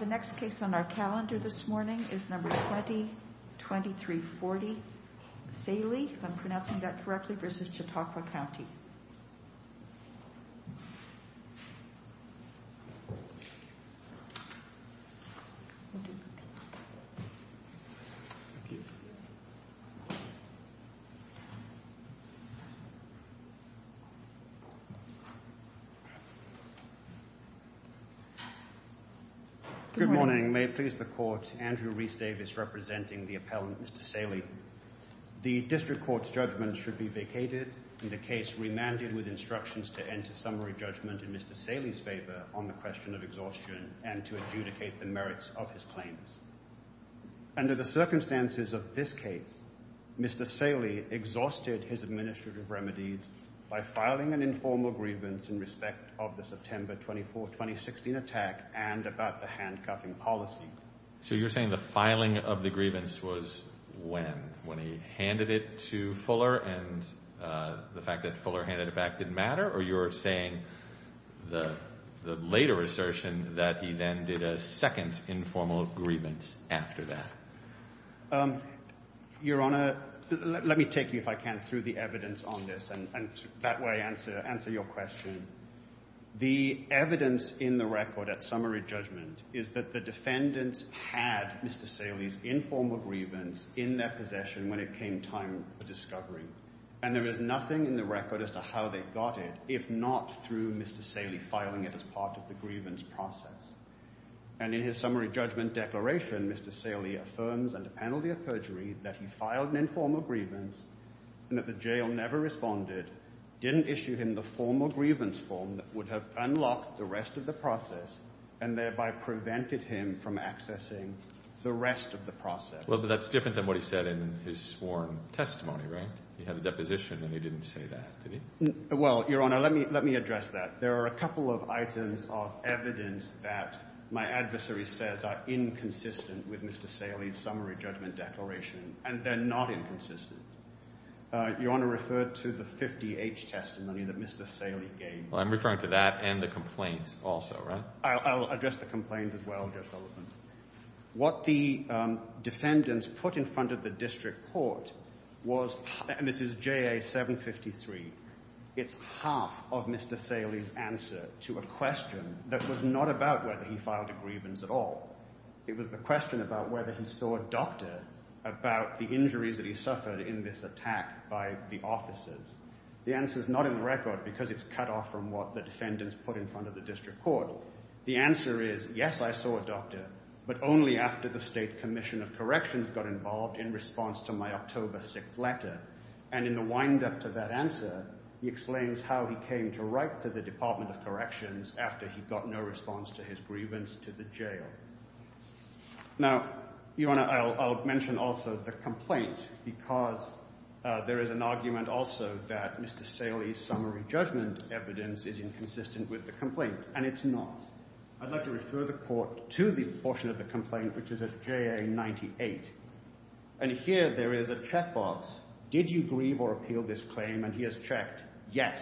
The next case on our calendar this morning is number 2023-40 Saeli, if I'm pronouncing that correctly, versus Chautauqua County. Good morning. May it please the Court, Andrew Rhys-Davis representing the appellant Mr. Saeli. The District Court's judgment should be vacated and the case remanded with instructions to enter summary judgment in Mr. Saeli's favor on the question of exhaustion and to adjudicate the merits of his claims. Under the circumstances of this case, Mr. Saeli exhausted his administrative remedies by filing an informal grievance in respect of the September 24, 2016 attack and about the handcuffing policy. So you're saying the filing of the grievance was when? When he handed it to Fuller and the fact that Fuller handed it back didn't matter? Or you're saying the later assertion that he then did a second informal grievance after that? Your Honor, let me take you, if I can, through the evidence on this and that way answer your question. The evidence in the record at summary judgment is that the defendants had Mr. Saeli's informal grievance in their possession when it came time for discovery. And there is nothing in the record as to how they got it, if not through Mr. Saeli filing it as part of the grievance process. And in his summary judgment declaration, Mr. Saeli affirms under penalty of perjury that he filed an informal grievance and that the jail never responded, didn't issue him the formal grievance form that would have unlocked the rest of the process and thereby prevented him from accessing the rest of the process. Well, but that's different than what he said in his sworn testimony, right? He had the deposition and he didn't say that, did he? Well, Your Honor, let me address that. There are a couple of items of evidence that my adversary says are inconsistent with Mr. Saeli's summary judgment declaration, and they're not inconsistent. Your Honor referred to the 50-H testimony that Mr. Saeli gave. Well, I'm referring to that and the complaints also, right? I'll address the complaints as well, Joe Sullivan. What the defendants put in front of the district court was, and this is JA 753, it's half of Mr. Saeli's answer to a question that was not about whether he filed a grievance at all. It was the question about whether he saw a doctor about the The answer is not in the record because it's cut off from what the defendants put in front of the district court. The answer is, yes, I saw a doctor, but only after the State Commission of Corrections got involved in response to my October 6th letter. And in the wind-up to that answer, he explains how he came to write to the Department of Corrections after he got no response to his grievance to the that Mr. Saeli's summary judgment evidence is inconsistent with the complaint, and it's not. I'd like to refer the court to the portion of the complaint, which is at JA 98, and here there is a checkbox, did you grieve or appeal this claim, and he has checked yes.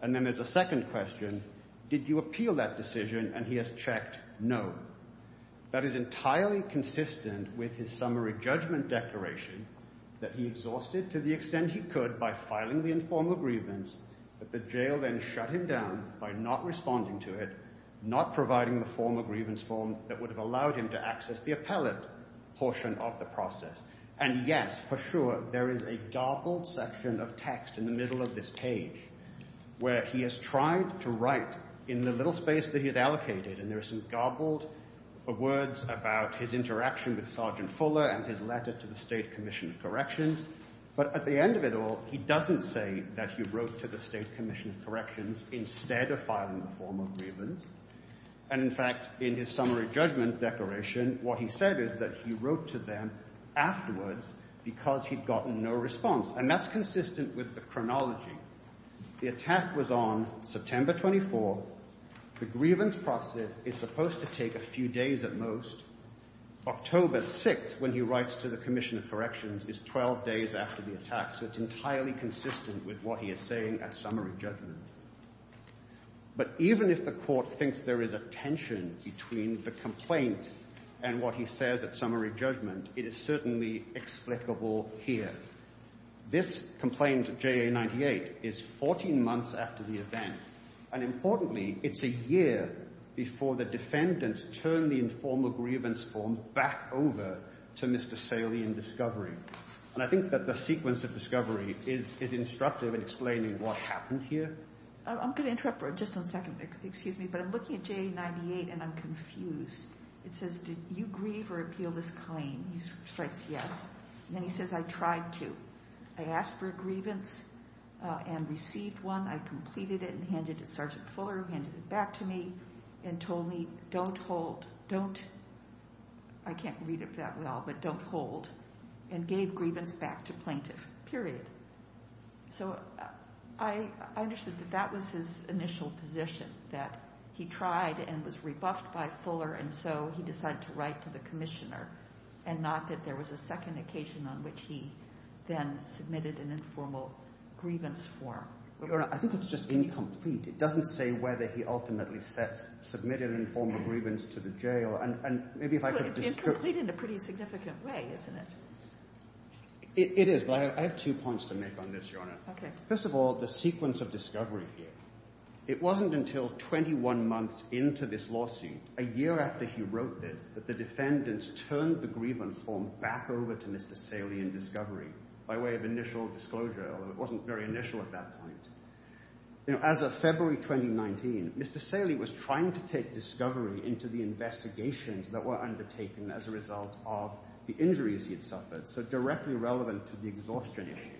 And then there's a second question, did you appeal that decision, and he has checked no. That is entirely consistent with his grievance, but the jail then shut him down by not responding to it, not providing the formal grievance form that would have allowed him to access the appellate portion of the process. And yes, for sure, there is a garbled section of text in the middle of this page where he has tried to write in the little space that he's allocated, and there are some garbled words about his interaction with Sergeant Fuller and his letter to the State Commission of Corrections. He doesn't say that he wrote to the State Commission of Corrections instead of filing the formal grievance, and in fact, in his summary judgment declaration, what he said is that he wrote to them afterwards because he'd gotten no response, and that's consistent with the chronology. The attack was on September 24. The grievance process is supposed to take a few days at most. October 6, when he writes to the Commission of Corrections, is 12 days after the attack, so it's highly consistent with what he is saying at summary judgment. But even if the Court thinks there is a tension between the complaint and what he says at summary judgment, it is certainly explicable here. This complaint, JA 98, is 14 months after the event, and importantly, it's a year before the defendants turn the informal grievance form back over to Mr. Saley in discovery, and I think that the sequence of discovery is instructive in explaining what happened here. I'm going to interrupt for just one second, excuse me, but I'm looking at JA 98 and I'm confused. It says, did you grieve or appeal this claim? He strikes yes, and then he says, I tried to. I asked for a grievance and received one. I completed it and handed it to Sergeant Fuller, handed it back to me, and told me don't hold, don't, I can't read it that well, but don't hold, and gave grievance back to plaintiff, period. So I understood that that was his initial position, that he tried and was rebuffed by Fuller, and so he decided to write to the Commissioner, and not that there was a second occasion on which he then submitted an informal grievance form. Your Honor, I think it's just incomplete. It doesn't say whether he ultimately submitted an informal grievance to the jail, and maybe if I could... It's incomplete in a pretty significant way, isn't it? It is, but I have two points to make on this, Your Honor. First of all, the sequence of discovery here. It wasn't until 21 months into this lawsuit, a year after he wrote this, that the defendants turned the grievance form back over to Mr. Saley in discovery by way of initial disclosure, although it wasn't very initial at that point. You know, as of February 2019, Mr. Saley was trying to take discovery into the investigations that were undertaken as a result of the injuries he had suffered, so directly relevant to the exhaustion issue.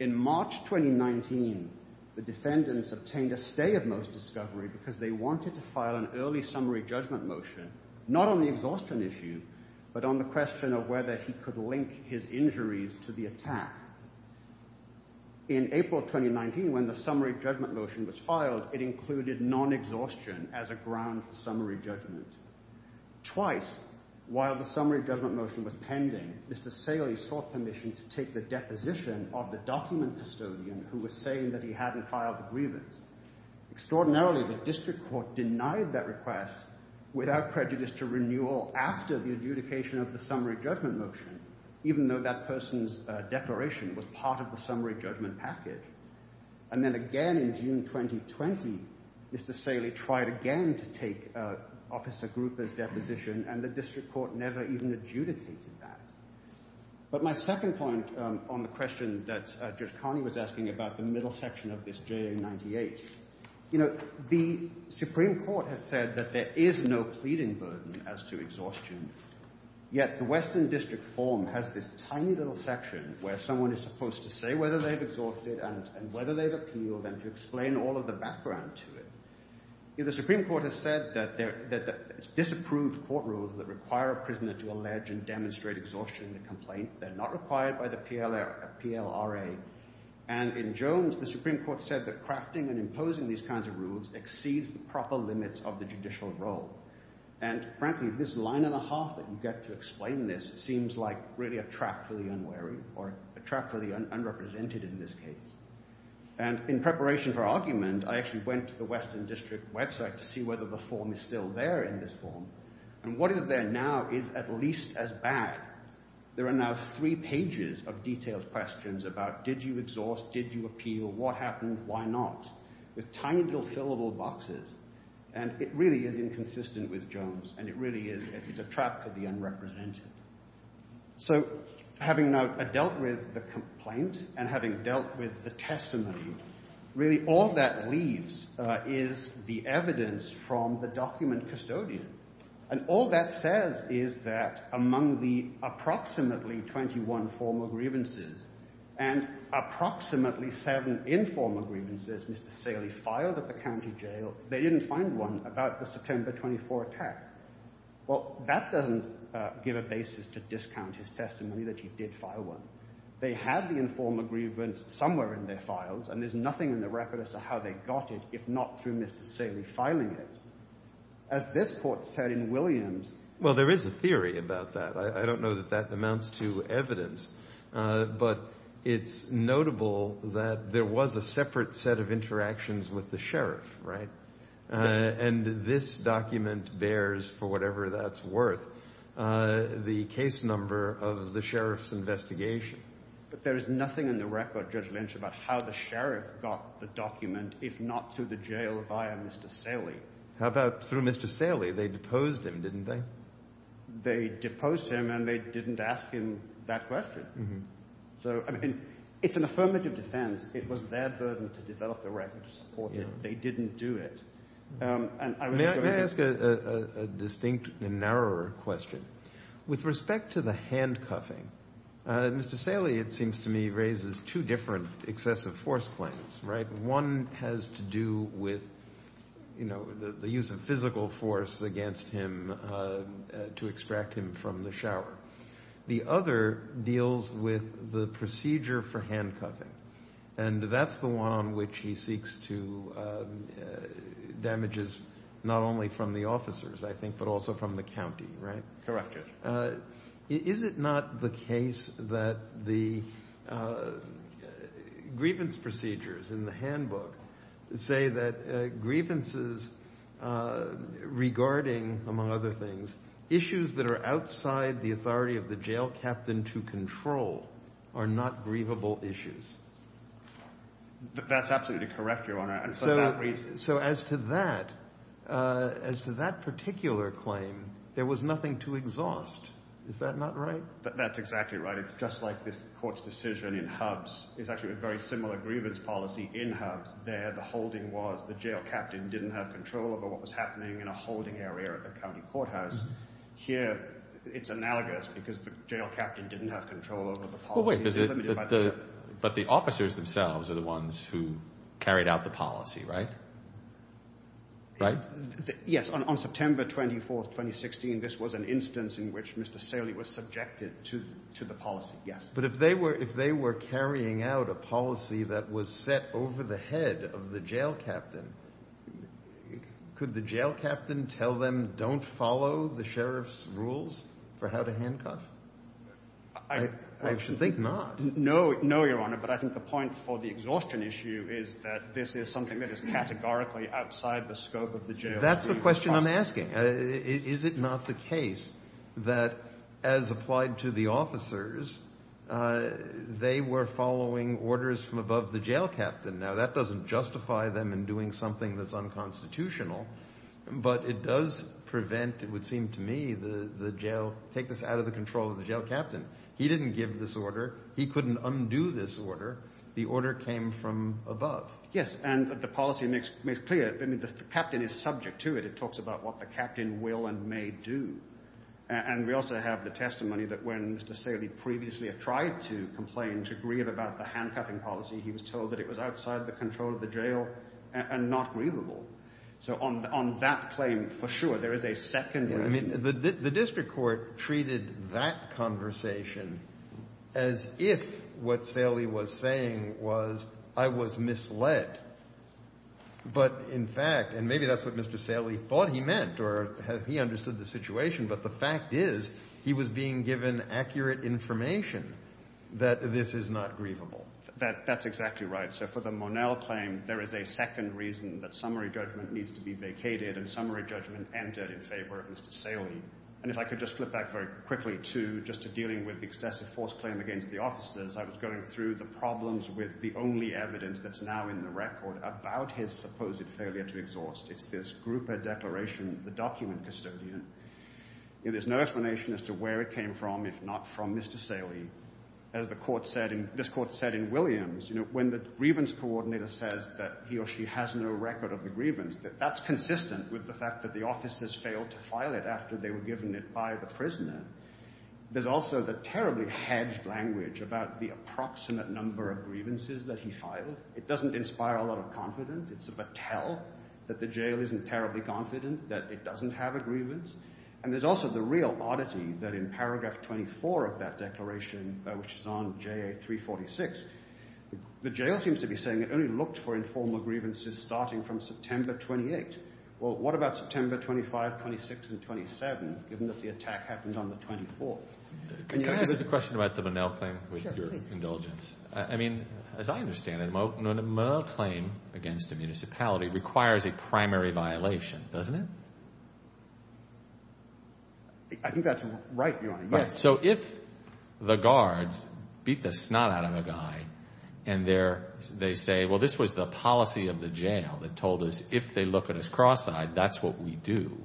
In March 2019, the defendants obtained a stay of most discovery because they wanted to file an early summary judgment motion, not on the exhaustion issue, but on the question of whether he could link his injuries to the attack. In April 2019, when the summary judgment motion was filed, it included non-exhaustion as a ground for summary judgment. Twice, while the summary judgment motion was pending, Mr. Saley sought permission to take the deposition of the document custodian who was saying that he hadn't filed the grievance. Extraordinarily, the district court denied that request without prejudice to renewal after the adjudication of the summary judgment motion, even though that person's declaration was part of the summary judgment package. And then again in June 2020, Mr. Saley tried again to take Officer Gruber's deposition and the district court never even adjudicated that. But my second point on the question that Judge Carney was asking about the middle section of this JA-98, you know, the Supreme Court has said that there is no pleading burden as to exhaustion, yet the Western District form has this tiny little section where someone is supposed to say whether they've exhausted and whether they've appealed and to explain all of the background to it. The Supreme Court has said that there are disapproved court rules that require a prisoner to allege and demonstrate exhaustion in the complaint. They're not required by the PLRA. And in Jones, the Supreme Court said that crafting and imposing these kinds of rules exceeds the proper limits of the judicial role. And frankly, this line and a half that you get to explain this seems like really a trap for the unwary or a trap for the unrepresented in this case. And in preparation for argument, I actually went to the Western District website to see whether the form is still there in this form. And what is there now is at least as bad. There are now three pages of detailed questions about did you exhaust, did you appeal, what happened, why not, with tiny little fillable boxes. And it really is inconsistent with Jones, and it really is a trap for the unrepresented. So having now dealt with the complaint and having dealt with the testimony, really all that leaves is the evidence from the document custodian. And all that says is that among the approximately 21 formal grievances and approximately seven informal grievances Mr. Saley filed at the county jail, they didn't find one about the September 24 attack. Well, that doesn't give a basis to discount his testimony that he did file one. They had the informal grievance somewhere in their files, and there's nothing in the record as to how they got it if not through Mr. Saley filing it. As this court said in Williams... Well, there is a theory about that. I don't know that that amounts to evidence, but it's notable that there was a separate set of interactions with the sheriff, right? And this document bears, for whatever that's worth, the case number of the sheriff's investigation. But there is nothing in the record, Judge Lynch, about how the sheriff got the document if not through the jail via Mr. Saley. How about through Mr. Saley? They deposed him, didn't they? They deposed him, and they didn't ask him that question. So, I mean, it's an affirmative defense. It was their burden to develop the record, to support it. They didn't do it. And may I ask a distinct and narrower question? With respect to the handcuffing, Mr. Saley, it seems to me, raises two different excessive force claims, right? One has to do with, you know, the use of physical force against him to extract him from the shower. The other deals with the procedure for handcuffing, and that's the one on which he seeks to damages not only from the officers, I think, but also from the county, right? Correct, Judge. Is it not the case that the grievance procedures in the handbook say that grievances regarding, among other things, issues that are outside the authority of the jail captain to control are not grievable issues? That's absolutely correct, Your Honor. So, as to that, as to that particular claim, there was nothing to exhaust. Is that not right? That's exactly right. It's just like this court's decision in HUBS. It's actually a very similar grievance policy in HUBS. There, the holding was the jail captain didn't have control over what was happening in a holding area at the county courthouse. Here, it's analogous, because the jail captain didn't have control over the policy. But the officers themselves are the ones who carried out the policy, right? Right? Yes. On September 24th, 2016, this was an instance in which Mr. Saley was subjected to the policy. Yes. But if they were carrying out a policy that was set over the head of the jail captain, could the jail captain tell them, don't follow the sheriff's rules for how to handcuff? I actually think not. No, no, Your Honor. But I think the point for the exhaustion issue is that this is something that is categorically outside the scope of the jail. That's the question I'm asking. Is it not the case that, as applied to the officers, they were following orders from above the jail captain? Now, that doesn't justify them in doing something that's unconstitutional. But it does prevent, it would seem to me, the jail, take this out of the control of the jail captain. He didn't give this order. He couldn't undo this order. The order came from above. Yes. And the policy makes clear, I mean, the captain is subject to it. It talks about what the captain will and may do. And we also have the testimony that when Mr. Saley previously tried to complain, to grieve about the handcuffing policy, he was told that it was outside the control of the jail and not grievable. So on that claim, for sure, there is a second reason. The district court treated that conversation as if what Saley was saying was, I was misled. But in fact, and maybe that's what Mr. Saley thought he meant or he understood the situation, but the fact is he was being given accurate information that this is not grievable. That's exactly right. So for the Monell claim, there is a second reason that summary judgment needs to be vacated and summary judgment entered in favor of Mr. Saley. And if I could just flip back very quickly to just dealing with the excessive force claim against the officers, I was going through the problems with the only evidence that's now in the record about his supposed failure to exhaust. It's this grouper declaration, the document custodian. There's no explanation as to where it came from, if not from Mr. Saley. As this court said in Williams, when the grievance coordinator says that he or she has no record of the grievance, that's consistent with the fact that the officers failed to file it after they were given it by the prisoner. There's also the terribly hedged language about the approximate number of grievances that he filed. It doesn't inspire a lot of confidence. It's a tell that the jail isn't terribly confident that it doesn't have a grievance. And there's also the real oddity that in paragraph 24 of that declaration, which is on JA 346, the jail seems to be saying it only looked for informal grievances starting from September 28. Well, what about September 25, 26, and 27, given that the attack happened on the 24th? Can I ask a question about the Monell claim with your indulgence? I mean, as I understand it, a Monell claim against a municipality requires a primary violation, doesn't it? I think that's right, Your Honor. Yes. So if the guards beat the snot out of a guy and they say, well, this was the policy of the jail that told us if they look at us cross-eyed, that's what we do.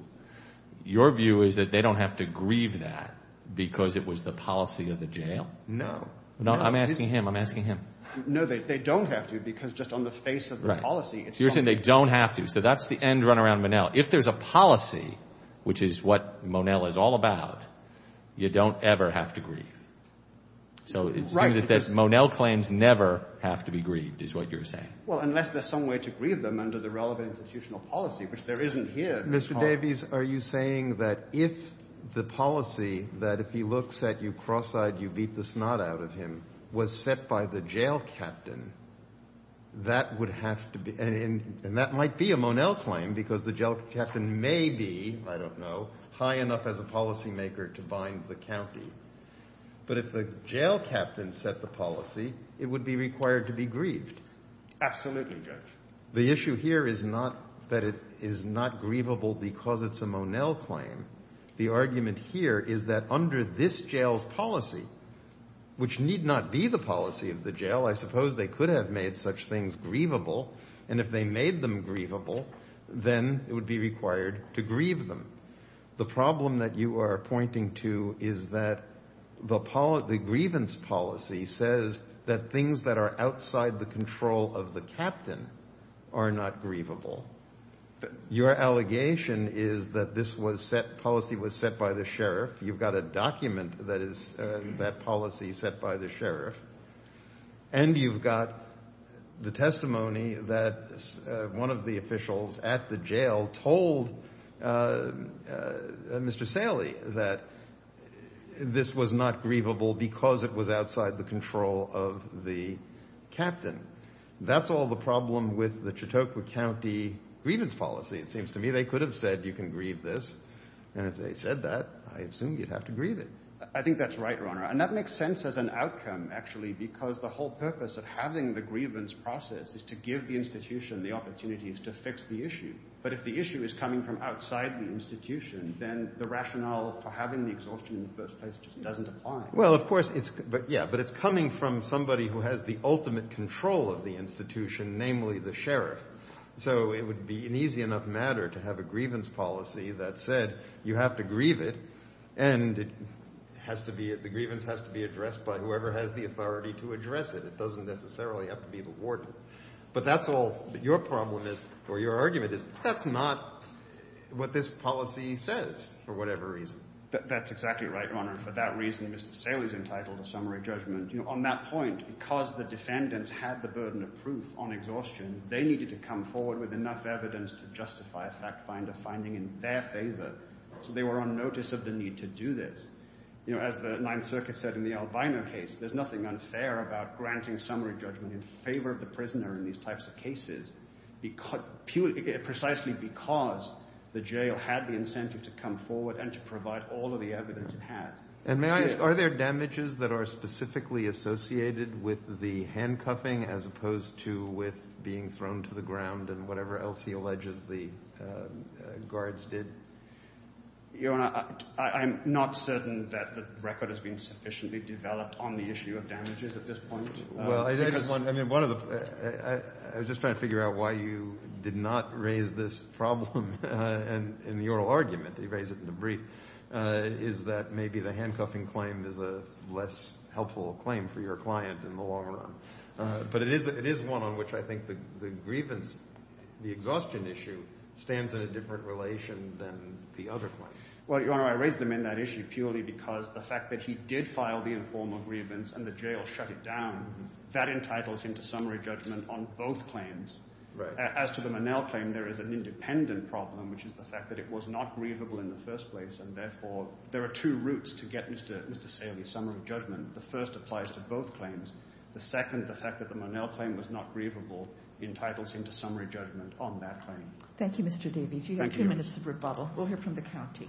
Your view is that they don't have to grieve that because it was the policy of the jail? No. No, I'm asking him. I'm asking him. No, they don't have to because just on the face of the policy. You're saying they don't have to. So that's the end run around Monell. If there's a policy, which is what Monell is all about, you don't ever have to grieve. So it seems that Monell claims never have to be grieved is what you're saying. Well, unless there's some way to grieve them under the relevant institutional policy, which there isn't here. Mr. Davies, are you saying that if the policy that if he looks at you cross-eyed, you beat the snot out of him, was set by the jail captain, that would have to be, and that might be a Monell claim because the jail captain may be, I don't know, high enough as a policymaker to bind the county. But if the jail captain set the policy, it would be required to be grieved. Absolutely, Judge. The issue here is not that it is not grievable because it's a Monell claim. The argument here is that under this jail's policy, which need not be the policy of the jail, I suppose they could have made such things grievable. And if they made them grievable, then it would be required to grieve them. The problem that you are pointing to is that the grievance policy says that things that are outside the control of the captain are not grievable. Your allegation is that this policy was set by the sheriff. You've got a document that is that policy set by the sheriff. And you've got the testimony that one of the officials at the jail told Mr. Saley that this was not grievable because it was outside the control of the captain. That's all the problem with the Chautauqua County grievance policy. It seems to me they could have said you can grieve this. And if they said that, I assume you'd have to grieve it. I think that's right, Your Honor. And that makes sense as an outcome, actually, because the whole purpose of having the grievance process is to give the institution the opportunity to fix the issue. But if the issue is coming from outside the institution, then the rationale for having the exhaustion in the first place just doesn't apply. Well, of course, but it's coming from somebody who has the ultimate control of the institution, namely the sheriff. So it would be an easy enough matter to have a grievance policy that said you have to grieve it and the grievance has to be addressed by whoever has the authority to address it. It doesn't necessarily have to be the warden. But that's all your problem is, or your argument is, that's not what this policy says for whatever reason. That's exactly right, Your Honor. For that reason, Mr. Saley's entitled to summary judgment. On that point, because the defendants had the burden of proof on exhaustion, they needed to come forward with enough evidence to justify a fact finder finding in their favor. So they were on notice of the need to do this. As the Ninth Circuit said in the Albino case, there's nothing unfair about granting summary judgment in favor of the prisoner in these types of cases precisely because the jail had the incentive to come forward and to provide all of the evidence it has. And may I ask, are there damages that are specifically associated with the handcuffing as opposed to with being thrown to the ground and whatever else he alleges the guards did? Your Honor, I'm not certain that the record has been sufficiently developed on the issue of handcuffing. I was just trying to figure out why you did not raise this problem in the oral argument. You raised it in a brief. Is that maybe the handcuffing claim is a less helpful claim for your client in the long run? But it is one on which I think the grievance, the exhaustion issue, stands in a different relation than the other claims. Well, Your Honor, I raised them in that issue purely because the fact that he did file the informal grievance and the jail shut it down, that entitles him to summary judgment on both claims. Right. As to the Monell claim, there is an independent problem, which is the fact that it was not grievable in the first place. And therefore, there are two routes to get Mr. Saley's summary judgment. The first applies to both claims. The second, the fact that the Monell claim was not grievable, entitles him to summary judgment on that claim. Thank you, Mr. Davies. You have two minutes of rebuttal. We'll hear from the county.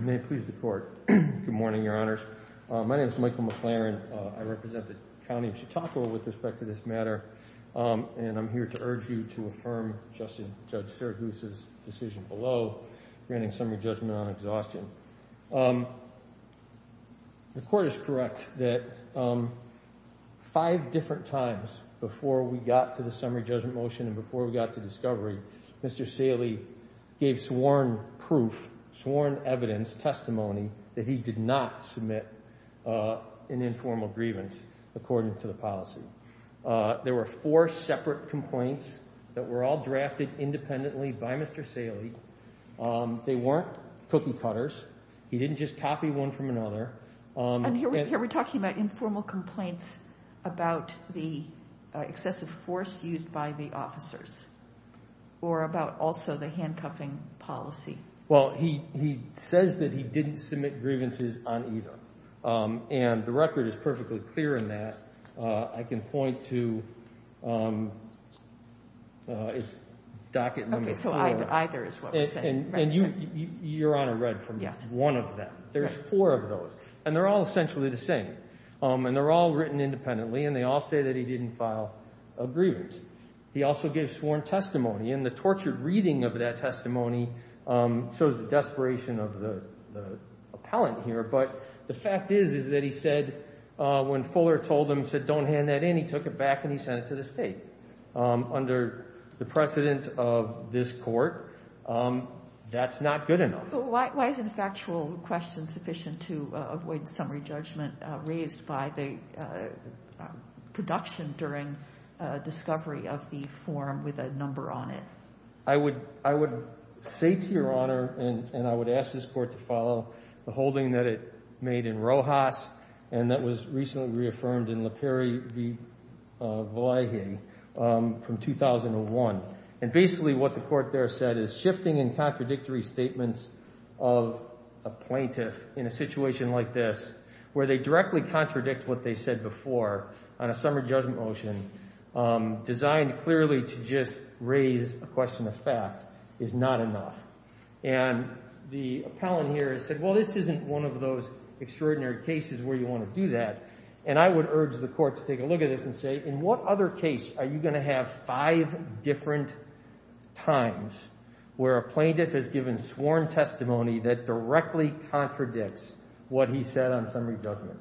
May it please the court. Good morning, Your Honors. My name is Michael McLaren. I represent the county of Chautauqua with respect to this matter. And I'm here to urge you to affirm Justin, Judge Sturgis's decision below granting summary judgment on exhaustion. The court is correct that five different times before we got to the summary judgment motion and before we got to discovery, Mr. Saley gave sworn proof, sworn evidence, testimony that he did not submit an informal grievance according to the policy. There were four separate complaints that were all drafted independently by Mr. Saley. They weren't cookie cutters. He didn't just copy one from another. And here we're talking about informal complaints about the excessive force used by the officers or about also the handcuffing policy. Well, he says that he didn't submit grievances on either. And the record is perfectly clear in that. I can point to docket number four. Okay, so either is what we're saying. And you, Your Honor, read from one of them. There's four of those. And they're all essentially the same. And they're all written independently. And they all say that he didn't file a grievance. He also gave sworn testimony. And the tortured reading of that testimony shows the desperation of the appellant here. But the fact is that he said when Fuller told him, said don't hand that in, he took it back and he sent it to the state. Under the precedent of this court, that's not good enough. Why isn't a factual question sufficient to avoid summary judgment raised by the production during discovery of the form with a number on it? I would say to Your Honor, and I would ask this court to follow, the holding that it made in Rojas and that was recently reaffirmed in LePere v. Valleje from 2001. And basically what the court there said is shifting and contradictory statements of a plaintiff in a situation like this where they directly contradict what they said before on a summary judgment motion designed clearly to just raise a question of fact is not enough. And the appellant here has said, well, this isn't one of those extraordinary cases where you want to do that. And I would urge the court to take a look at this and say, in what other case are you going to have five different times where a plaintiff has given sworn testimony that directly contradicts what he said on summary judgment?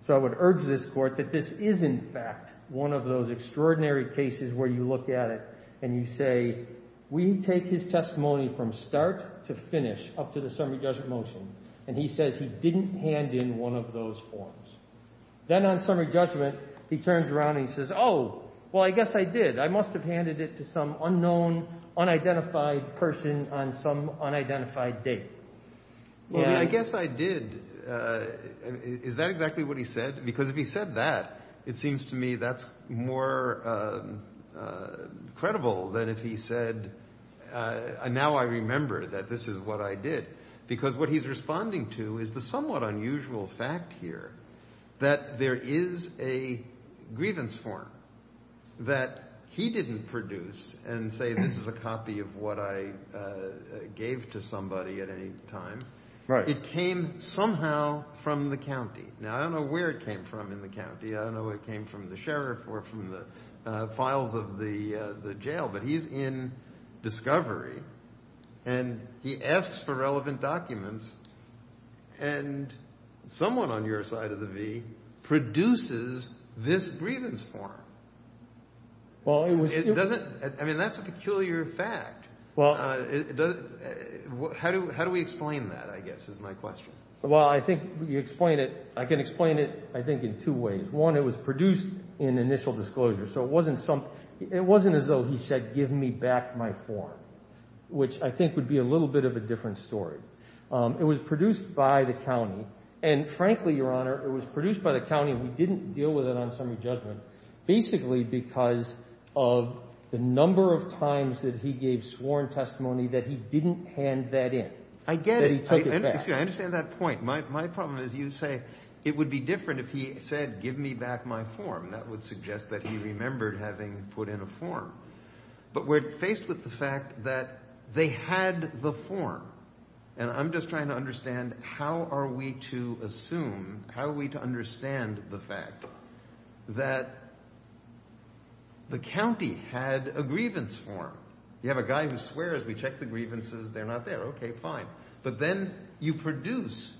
So I would urge this court that this is, in fact, one of those extraordinary cases where you look at it and you say, we take his testimony from start to finish up to the summary judgment motion, and he says he says, oh, well, I guess I did. I must have handed it to some unknown, unidentified person on some unidentified date. Well, I guess I did. Is that exactly what he said? Because if he said that, it seems to me that's more credible than if he said, now I remember that this is what I did. Because what he's responding to is the somewhat unusual fact here that there is a grievance form that he didn't produce and say this is a copy of what I gave to somebody at any time. It came somehow from the county. Now, I don't know where it came from in the county. I don't know it came from the sheriff or from the files of the jail. But he's in discovery, and he asks for relevant documents, and someone on your side of the V produces this grievance form. I mean, that's a peculiar fact. How do we explain that, I guess, is my question. Well, I think you explain it, I can explain it, I think, in two ways. One, it was produced in initial disclosure, so it wasn't as though he said give me back my form, which I think would be a little bit of a different story. It was produced by the county, and frankly, Your Honor, it was produced by the county, and we didn't deal with it on summary judgment, basically because of the number of times that he gave sworn testimony that he didn't hand that in, that he took it back. I understand that point. My problem is you say it would be different if he said, give me back my form. That would suggest that he remembered having put in a form. But we're faced with the fact that they had the form, and I'm just trying to understand, how are we to assume, how are we to understand the fact that the county had a grievance form? You have a guy who swears, we check the grievances, they're not there. Okay, fine. But then you produce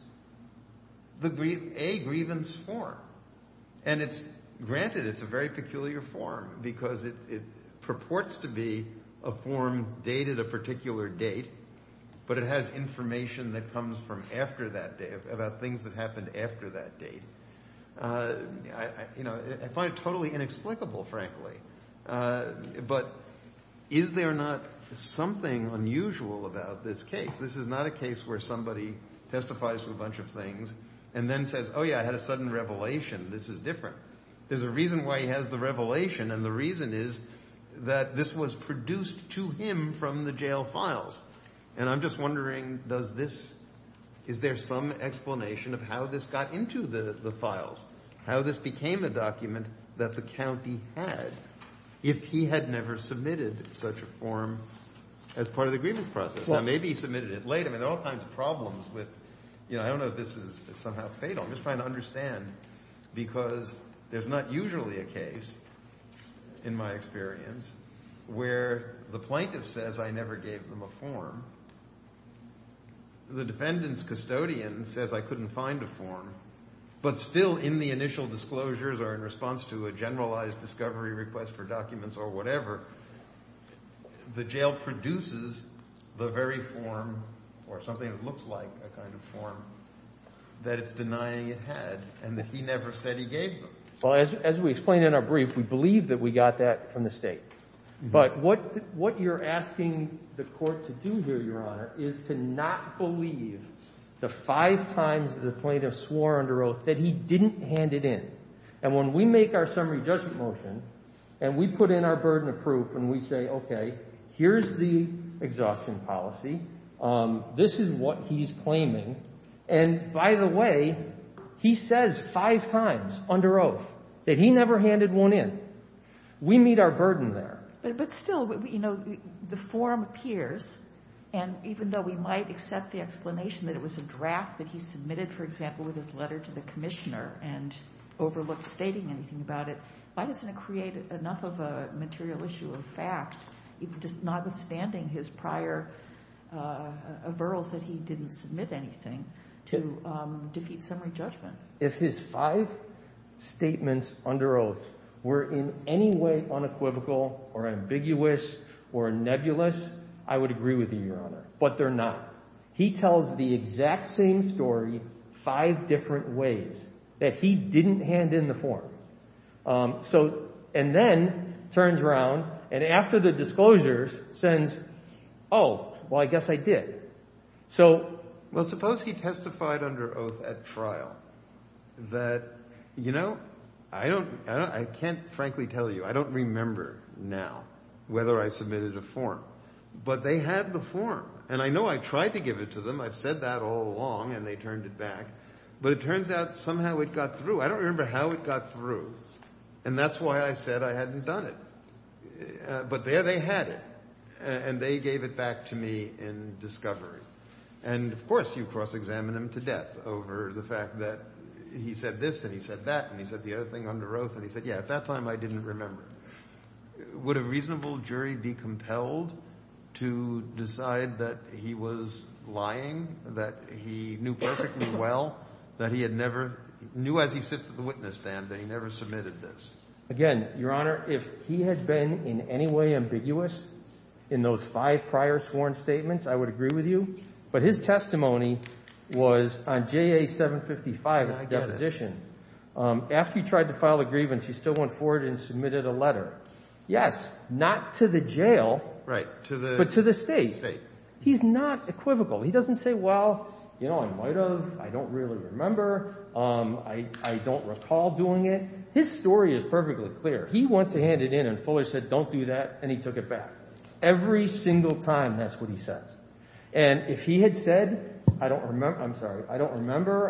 a grievance form, and it's, granted, it's a very peculiar form, because it purports to be a form dated a particular date, but it has information that comes from after that date, about things that happened after that date. You know, I find it totally inexplicable, frankly. But is there not something unusual about this case? This is not a case where somebody testifies to a bunch of things, and then says, oh yeah, I had a sudden revelation. This is different. There's a reason why he has the revelation, and the reason is that this was produced to him from the jail files. And I'm just wondering, does this, is there some explanation of how this got into the files? How this became a document that the county had, if he had never submitted such a form as part of the grievance process? Now, maybe he submitted it later. I mean, there are all kinds of problems with, you know, I don't know if this is somehow fatal. I'm just trying to understand, because there's not usually a case, in my experience, where the plaintiff says, I never gave them a form. The defendant's custodian says, I couldn't find a form. But still, in the initial disclosures, or in response to a generalized discovery request for documents or whatever, the jail produces the very form, or something that looks like a kind of form, that it's denying it had, and that he never said he gave them. Well, as we explained in our brief, we believe that we got that from the state. But what you're asking the court to do here, Your Honor, is to not believe the five times that the plaintiff swore under oath that he didn't hand it in. And when we make our summary judgment motion, and we put in our burden of proof, and we say, okay, here's the exhaustion policy. This is what he's claiming. And by the way, he says five times under oath that he never handed one in. We meet our burden there. But still, you know, the form appears, and even though we might accept the explanation that it overlooks stating anything about it, why doesn't it create enough of a material issue of fact, just notwithstanding his prior overrules that he didn't submit anything to defeat summary judgment? If his five statements under oath were in any way unequivocal, or ambiguous, or nebulous, I would agree with you, Your Honor. But they're not. He tells the exact same story five different ways that he didn't hand in the form. And then turns around, and after the disclosures, says, oh, well, I guess I did. Well, suppose he testified under oath at trial that, you know, I can't frankly tell you. I don't remember now whether I submitted a form. But they had the form. And I know I tried to give it to them. I've said that all along, and they turned it back. But it turns out somehow it got through. I don't remember how it got through. And that's why I said I hadn't done it. But there they had it. And they gave it back to me in discovery. And of course, you cross-examine him to death over the fact that he said this, and he said that, and he said the other thing under oath. And he said, yeah, at that time, I didn't remember. Would a reasonable jury be compelled to decide that he was lying, that he knew perfectly well, that he had never, knew as he sits at the witness stand, that he never submitted this? Again, Your Honor, if he had been in any way ambiguous in those five prior sworn statements, I would agree with you. But his testimony was on JA-755 deposition. After he tried to file a grievance, he still went forward and submitted a letter. Yes, not to the jail, but to the state. He's not equivocal. He doesn't say, well, you know, I might have. I don't really remember. I don't recall doing it. His story is perfectly clear. He went to hand it in, and Fuller said, don't do that, and he took it back. Every single time, that's what he said. And if he had said, I don't remember,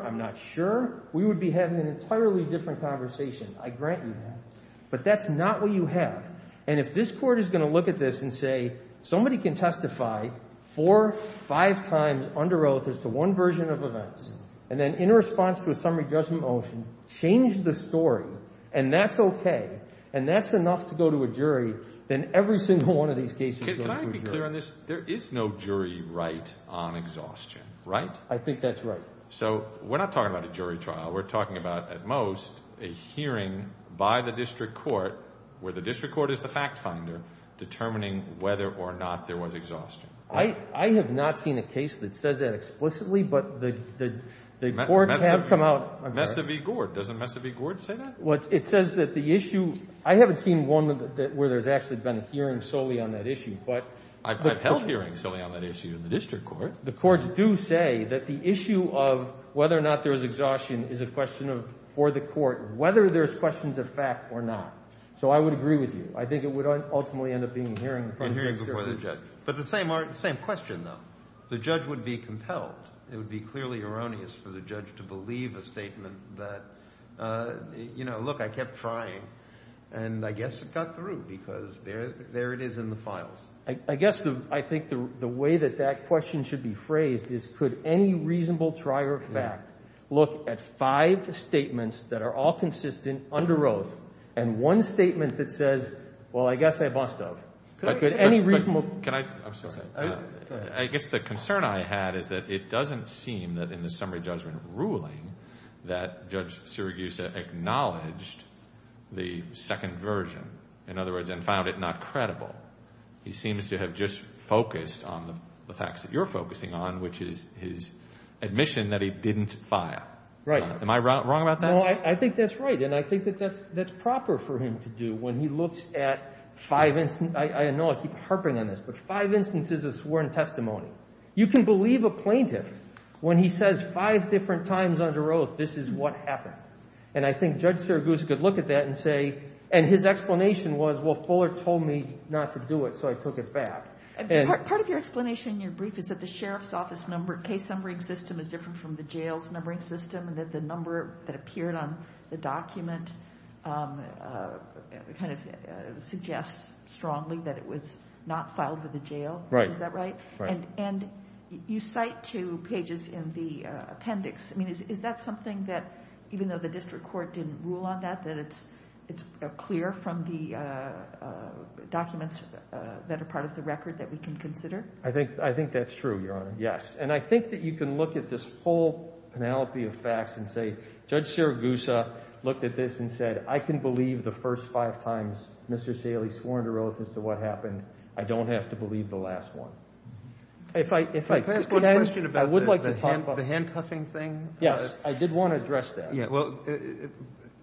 I'm not sure, we would be having an entirely different conversation. I grant you that. But that's not what you have. And if this court is going to look at this and say, somebody can testify four, five times under oath as to one version of events, and then in response to a summary judgment motion, change the story, and that's okay, and that's enough to go to a jury, then every single one of these cases goes to a jury. Can I be clear on this? There is no jury right on exhaustion, right? I think that's right. So we're not talking about a jury trial. We're talking about, at most, a hearing by the district court, where the district court is the fact finder, determining whether or not there was exhaustion. I have not seen a case that says that explicitly, but the courts have come out. Mesa v. Gord. Doesn't Mesa v. Gord say that? It says that the issue, I haven't seen one where there's actually been a hearing solely on that issue. I've held hearings solely on that issue in the district court. The courts do say that the issue of whether or not there was exhaustion is a question of, for the court, whether there's questions of fact or not. So I would agree with you. I think it would ultimately end up being a hearing before the judge. But the same question, though. The judge would be compelled, it would be clearly erroneous for the judge to believe a statement that, you know, look, I kept trying, and I guess it got through because there it is in the court. I think that question should be phrased as, could any reasonable trier of fact look at five statements that are all consistent under oath, and one statement that says, well, I guess I bust out? Could any reasonable... I guess the concern I had is that it doesn't seem that in the summary judgment ruling that Judge Sirigusa acknowledged the second version, in other words, and found it not credible. He seems to have just focused on the facts that you're focusing on, which is his admission that he didn't file. Right. Am I wrong about that? No, I think that's right, and I think that that's proper for him to do when he looks at five... I know I keep harping on this, but five instances of sworn testimony. You can believe a plaintiff when he says five different times under oath, this is what happened. And I think Judge Sirigusa could look at that and say, and his explanation was, well, Fuller told me not to do it, so I took it back. Part of your explanation in your brief is that the sheriff's office number, case numbering system is different from the jail's numbering system, and that the number that appeared on the document kind of suggests strongly that it was not filed with the jail. Right. Is that right? And you cite two pages in the appendix. I mean, is that something that, even though the district court didn't rule on that, that it's clear from the documents that are part of the record that we can consider? I think that's true, Your Honor. Yes. And I think that you can look at this whole penalty of facts and say, Judge Sirigusa looked at this and said, I can believe the first five times Mr. Saley swore under oath as to what happened. I don't have to believe the last one. If I... Can I ask a question about the handcuffing thing? Yes. I did want to address that. Yeah. Well,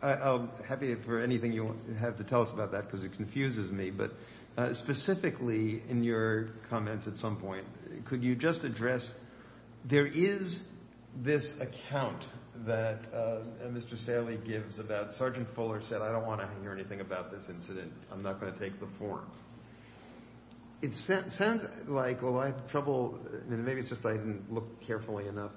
I'm happy for anything you have to tell us about that because it confuses me, but specifically in your comments at some point, could you just address, there is this account that Mr. Saley gives about Sergeant Fuller said, I don't want to hear anything about this incident. I'm not going to take the form. It sounds like, well, I have carefully enough.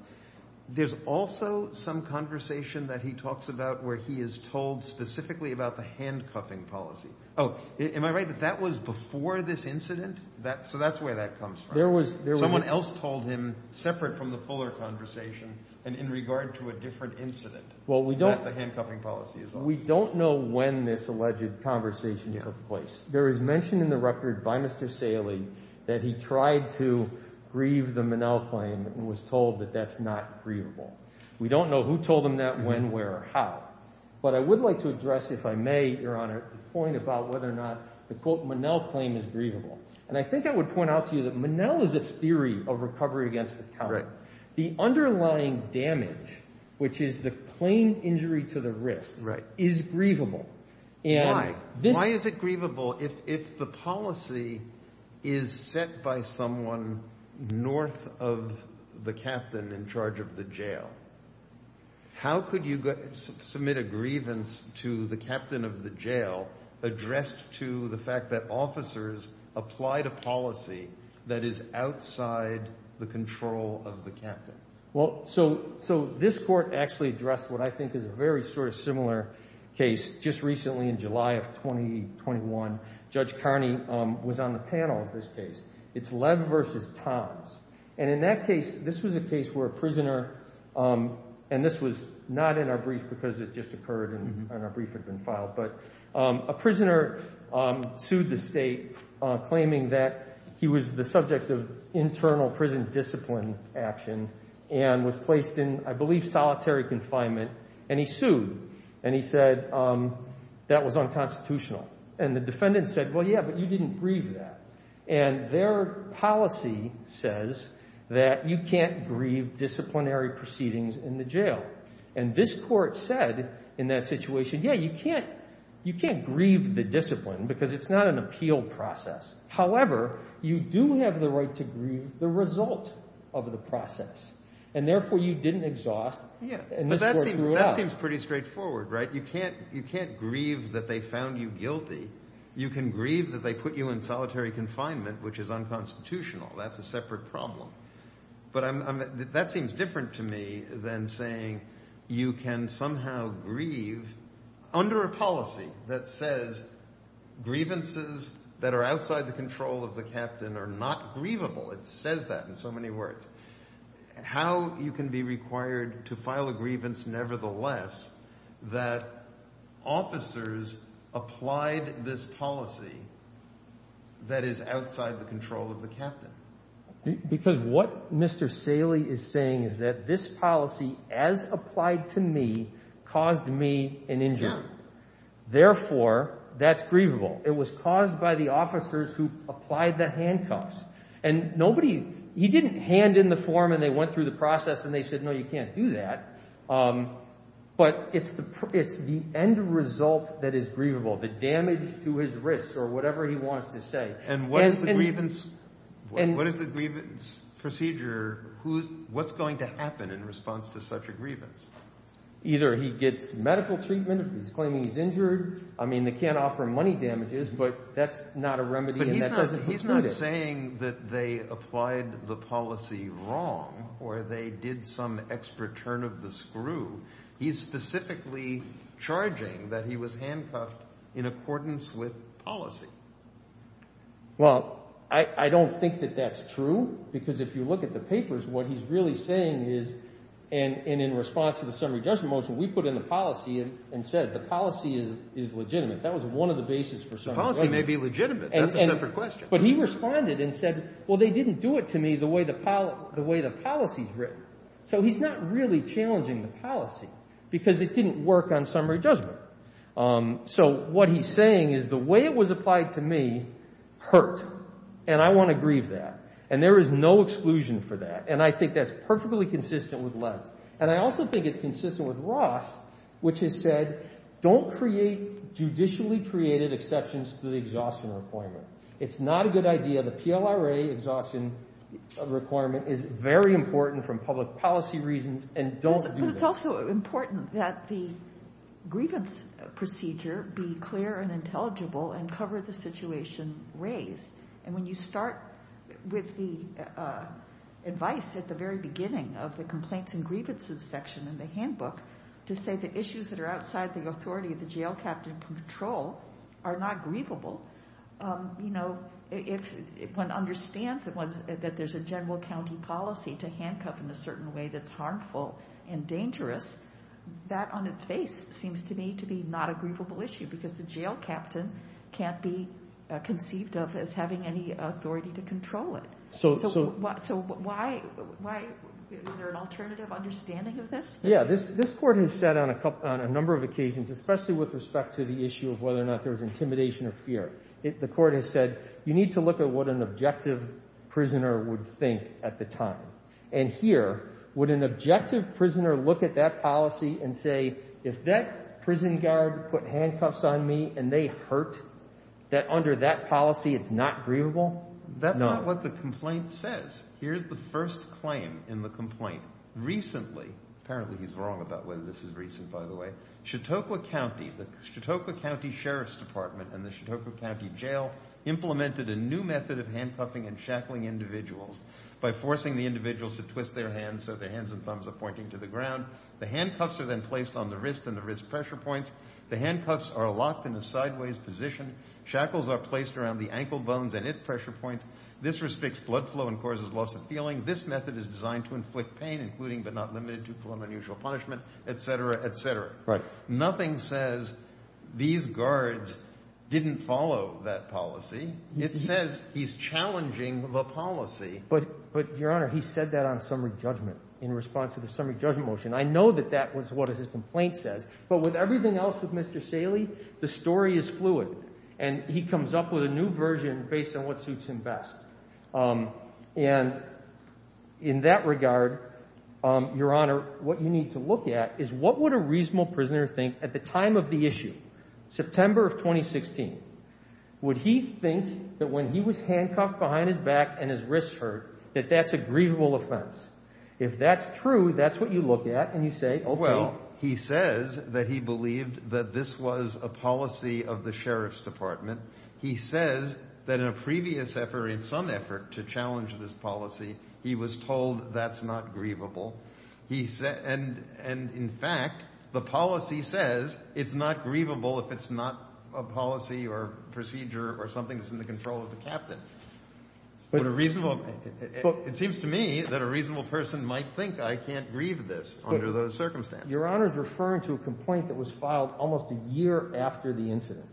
There's also some conversation that he talks about where he is told specifically about the handcuffing policy. Oh, am I right? That that was before this incident? So that's where that comes from. There was... Someone else told him separate from the Fuller conversation and in regard to a different incident. Well, we don't... That the handcuffing policy is on. We don't know when this alleged conversation took place. There is mentioned in the record by Mr. Saley that he tried to grieve the Monell claim and was told that that's not grievable. We don't know who told him that, when, where, or how, but I would like to address, if I may, Your Honor, the point about whether or not the quote Monell claim is grievable. And I think I would point out to you that Monell is a theory of recovery against the counter. The underlying damage, which is the claim injury to the wrist, is grievable. Why? Why is it grievable if the policy is set by someone north of the captain in charge of the jail? How could you submit a grievance to the captain of the jail addressed to the fact that officers applied a policy that is outside the control of the captain? Well, so this court actually addressed what I think is a very sort of similar case just recently in July of 2021. Judge Carney was on the panel of this case. It's Lev versus Toms. And in that case, this was a case where a prisoner, and this was not in our brief because it just occurred and our brief had been filed, but a prisoner sued the state claiming that he was the subject of internal prison discipline action and was placed in, I believe, solitary confinement. And he sued. And he said that was unconstitutional. And the defendant said, well, yeah, but you didn't grieve that. And their policy says that you can't grieve disciplinary proceedings in the jail. And this court said in that situation, yeah, you can't grieve the discipline because it's not an appeal process. However, you do have the right to grieve the discipline. That seems pretty straightforward, right? You can't grieve that they found you guilty. You can grieve that they put you in solitary confinement, which is unconstitutional. That's a separate problem. But that seems different to me than saying you can somehow grieve under a policy that says grievances that are outside the control of the captain are not grievable. How you can be required to file a grievance, nevertheless, that officers applied this policy that is outside the control of the captain. Because what Mr. Saley is saying is that this policy, as applied to me, caused me an injury. Therefore, that's grievable. It was caused by the hand in the form, and they went through the process, and they said, no, you can't do that. But it's the end result that is grievable, the damage to his wrists or whatever he wants to say. And what is the grievance procedure? What's going to happen in response to such a grievance? Either he gets medical treatment if he's claiming he's injured. I mean, they can't offer money wrong, or they did some expert turn of the screw. He's specifically charging that he was handcuffed in accordance with policy. Well, I don't think that that's true, because if you look at the papers, what he's really saying is, and in response to the summary judgment motion, we put in the policy and said the policy is legitimate. That was one of the bases for summary judgment. The policy may be legitimate. But he responded and said, well, they didn't do it to me the way the policy's written. So he's not really challenging the policy, because it didn't work on summary judgment. So what he's saying is, the way it was applied to me hurt, and I want to grieve that, and there is no exclusion for that. And I think that's perfectly consistent with Les. And I also think it's consistent with Ross, which has said, don't create judicially created exceptions to the exhaustion requirement. It's not a good idea. The PLRA exhaustion requirement is very important from public policy reasons, and don't do that. But it's also important that the grievance procedure be clear and intelligible and cover the situation raised. And when you start with the advice at the very beginning of the complaints and grievance inspection in the handbook, to say the issues that are outside the you know, if one understands that there's a general county policy to handcuff in a certain way that's harmful and dangerous, that on its face seems to me to be not a grievable issue, because the jail captain can't be conceived of as having any authority to control it. So why, is there an alternative understanding of this? Yeah, this this court has said on a number of occasions, especially with respect to the issue of whether or not there was intimidation or fear, the court has said you need to look at what an objective prisoner would think at the time. And here, would an objective prisoner look at that policy and say, if that prison guard put handcuffs on me and they hurt, that under that policy it's not grievable? That's not what the complaint says. Here's the first claim in the complaint. Recently, apparently he's wrong about whether this is recent by the way, Chautauqua County, the Chautauqua County Sheriff's Department and the Chautauqua County Jail implemented a new method of handcuffing and shackling individuals by forcing the individuals to twist their hands so their hands and thumbs are pointing to the ground. The handcuffs are then placed on the wrist and the wrist pressure points. The handcuffs are locked in a sideways position. Shackles are placed around the ankle bones and its pressure points. This restricts blood flow and causes loss of feeling. This method is designed to inflict pain, including but not limited to nothing says these guards didn't follow that policy. It says he's challenging the policy. But, but your honor, he said that on summary judgment in response to the summary judgment motion. I know that that was what his complaint says, but with everything else with Mr. Saley, the story is fluid and he comes up with a new version based on what suits him best. Um, and in that regard, um, your honor, what you need to look at is what would a reasonable prisoner think at the time of the issue, September of 2016, would he think that when he was handcuffed behind his back and his wrists hurt, that that's a grievable offense. If that's true, that's what you look at. And you say, well, he says that he believed that this was a policy of the Sheriff's to challenge this policy. He was told that's not grievable. He said, and, and in fact, the policy says it's not grievable if it's not a policy or procedure or something that's in the control of the captain, but a reasonable, it seems to me that a reasonable person might think I can't grieve this under those circumstances. Your honor's referring to a complaint that was filed almost a year after the incident.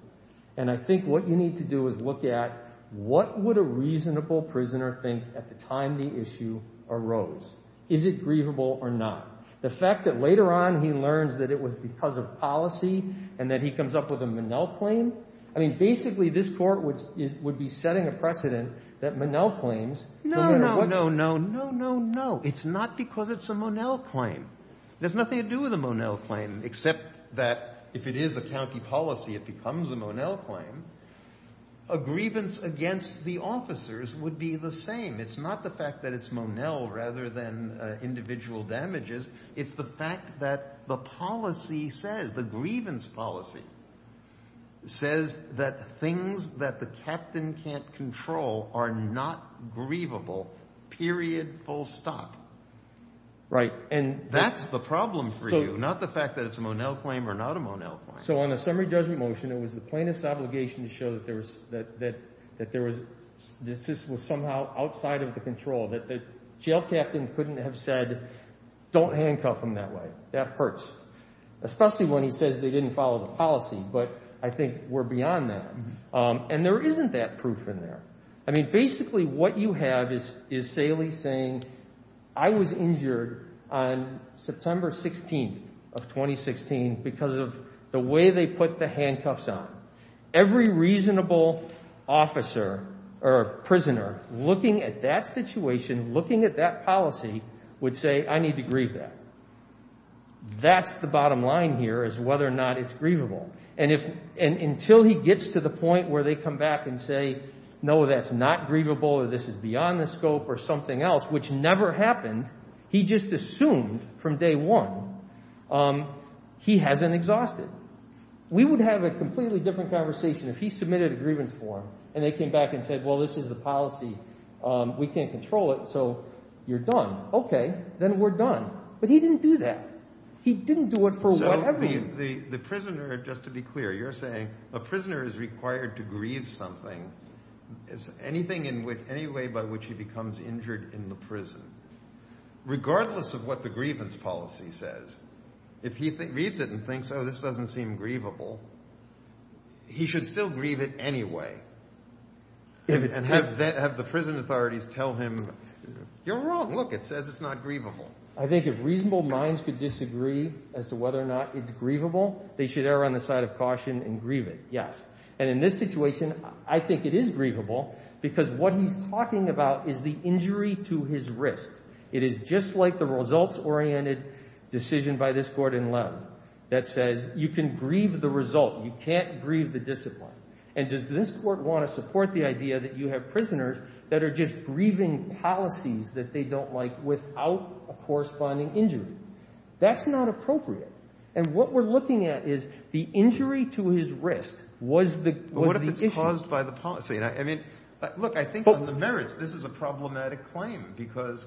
And I think what you need to do is look at what would a reasonable prisoner think at the time the issue arose. Is it grievable or not? The fact that later on he learns that it was because of policy and that he comes up with a Monell claim. I mean, basically this court would be setting a precedent that Monell claims. No, no, no, no, no, no, no. It's not because it's a Monell claim, except that if it is a county policy, it becomes a Monell claim. A grievance against the officers would be the same. It's not the fact that it's Monell rather than individual damages. It's the fact that the policy says, the grievance policy says that things that the captain can't control are not grievable, period, full stop. That's the problem for you, not the fact that it's a Monell claim or not a Monell claim. So on a summary judgment motion, it was the plaintiff's obligation to show that there was, that this was somehow outside of the control. That the jail captain couldn't have said, don't handcuff him that way. That hurts. Especially when he says they didn't follow the policy, but I think we're beyond that. And there isn't that proof in there. I mean, basically what you have is, is Salie saying, I was injured on September 16th of 2016 because of the way they put the handcuffs on. Every reasonable officer or prisoner looking at that situation, looking at that policy would say, I need to grieve that. That's the bottom line here is whether or not it's grievable. And if, and until he gets to the point where they come back and say, no, that's not grievable, or this is beyond the scope or something else, which never happened, he just assumed from day one, he hasn't exhausted. We would have a completely different conversation if he submitted a grievance form and they came back and said, well, this is the policy. We can't control it. So you're done. Okay. Then we're done. But he didn't do that. He didn't do it for whatever reason. The prisoner, just to be clear, you're saying a prisoner is required to grieve something. Is anything in which any way by which he becomes injured in the prison, regardless of what the grievance policy says, if he reads it and thinks, oh, this doesn't seem grievable, he should still grieve it anyway. And have the prison authorities tell him, you're wrong. Look, it says it's not grievable. I think if reasonable minds could disagree as to whether or not it's grievable, they should err on the side of caution and grieve it. Yes. And in this situation, I think it is grievable because what he's talking about is the injury to his wrist. It is just like the results-oriented decision by this Court in Loeb that says you can grieve the result. You can't grieve the discipline. And does this Court want to support the idea that you have prisoners that are just grieving policies that they don't like without a corresponding injury? That's not appropriate. And what we're looking at is the injury to his wrist was the issue. But what if it's caused by the policy? I mean, look, I think on the merits, this is a problematic claim because,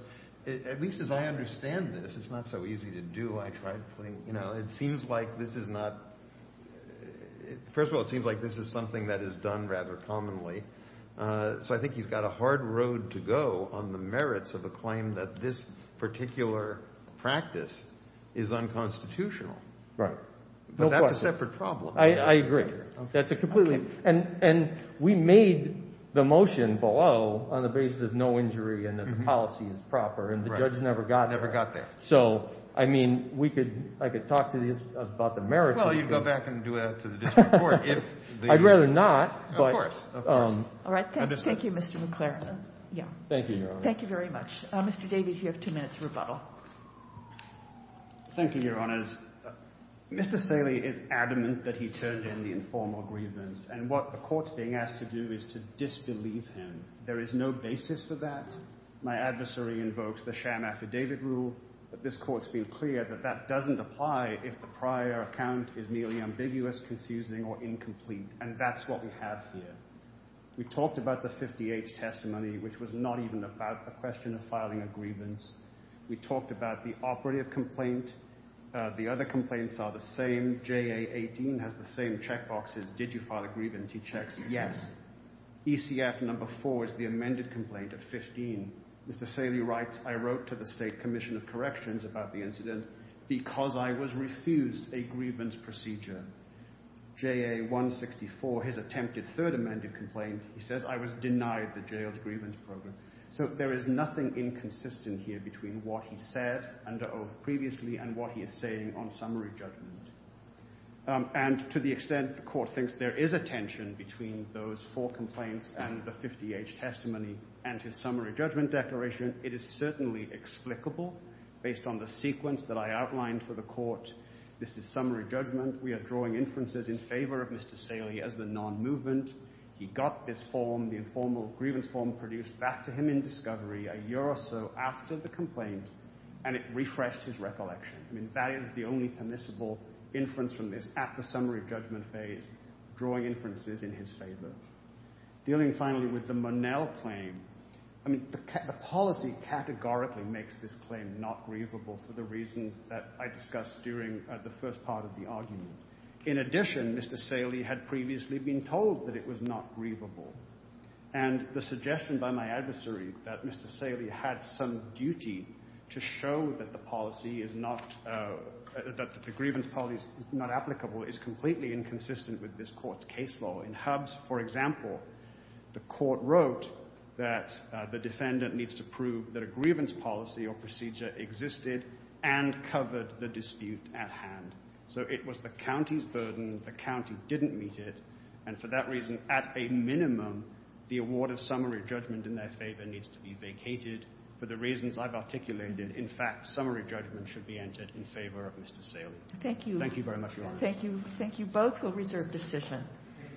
at least as I understand this, it's not so easy to do. I tried putting, you know, it seems like this is not, first of all, it seems like this is something that is done rather commonly. So I think he's got a hard road to go on the merits of the claim that this particular practice is unconstitutional. Right. But that's a separate problem. I agree. That's a completely... And we made the motion below on the basis of no injury and that the policy is proper and the judge never got there. Never got there. So, I mean, I could talk to you about the merits. Well, you'd go back and do that to the district court. I'd rather not. Of course. Of course. All right. Thank you, Mr. McLaren. Thank you, Your Honor. Thank you very much. Mr. Davies, you have two minutes for rebuttal. Thank you, Your Honors. Mr. Saley is adamant that he turned in the informal grievance and what the court's being asked to do is to disbelieve him. There is no basis for that. My adversary invokes the sham affidavit rule, but this court's been clear that that doesn't apply if the prior account is merely ambiguous, confusing, or incomplete, and that's what we have here. We talked about the 50H testimony, which was not even about the question of filing a grievance. We talked about the operative complaint. The other complaints are the same. JA 18 has the same checkboxes. Did you file a grievance? He checks, yes. ECF number four is the amended complaint of 15. Mr. Saley writes, I wrote to the state commission of corrections about the incident because I was refused a grievance procedure. JA 164, his attempted third amended complaint, he says I was denied the jail program. So there is nothing inconsistent here between what he said under oath previously and what he is saying on summary judgment. And to the extent the court thinks there is a tension between those four complaints and the 50H testimony and his summary judgment declaration, it is certainly explicable based on the sequence that I outlined for the court. This is summary judgment. We are drawing inferences in favor of Mr. Saley as the non-movement. He got this form, the informal grievance form produced back to him in discovery a year or so after the complaint and it refreshed his recollection. That is the only permissible inference from this at the summary judgment phase, drawing inferences in his favor. Dealing finally with the Monell claim, I mean, the policy categorically makes this claim not grievable for the reasons that I discussed during the first part of the argument. In addition, Mr. Saley had previously been told that it was not grievable. And the suggestion by my adversary that Mr. Saley had some duty to show that the policy is not, that the grievance policy is not applicable is completely inconsistent with this court's case law. In Hubs, for example, the court wrote that the defendant needs to prove that a grievance policy or procedure existed and covered the dispute at hand. So it was the county's burden, the county didn't meet it. And for that reason, at a minimum, the award of summary judgment in their favor needs to be vacated. For the reasons I've articulated, in fact, summary judgment should be entered in favor of Mr. Saley. Thank you. Thank you very much, Your Honor. Thank you. Thank you both. We'll reserve decision.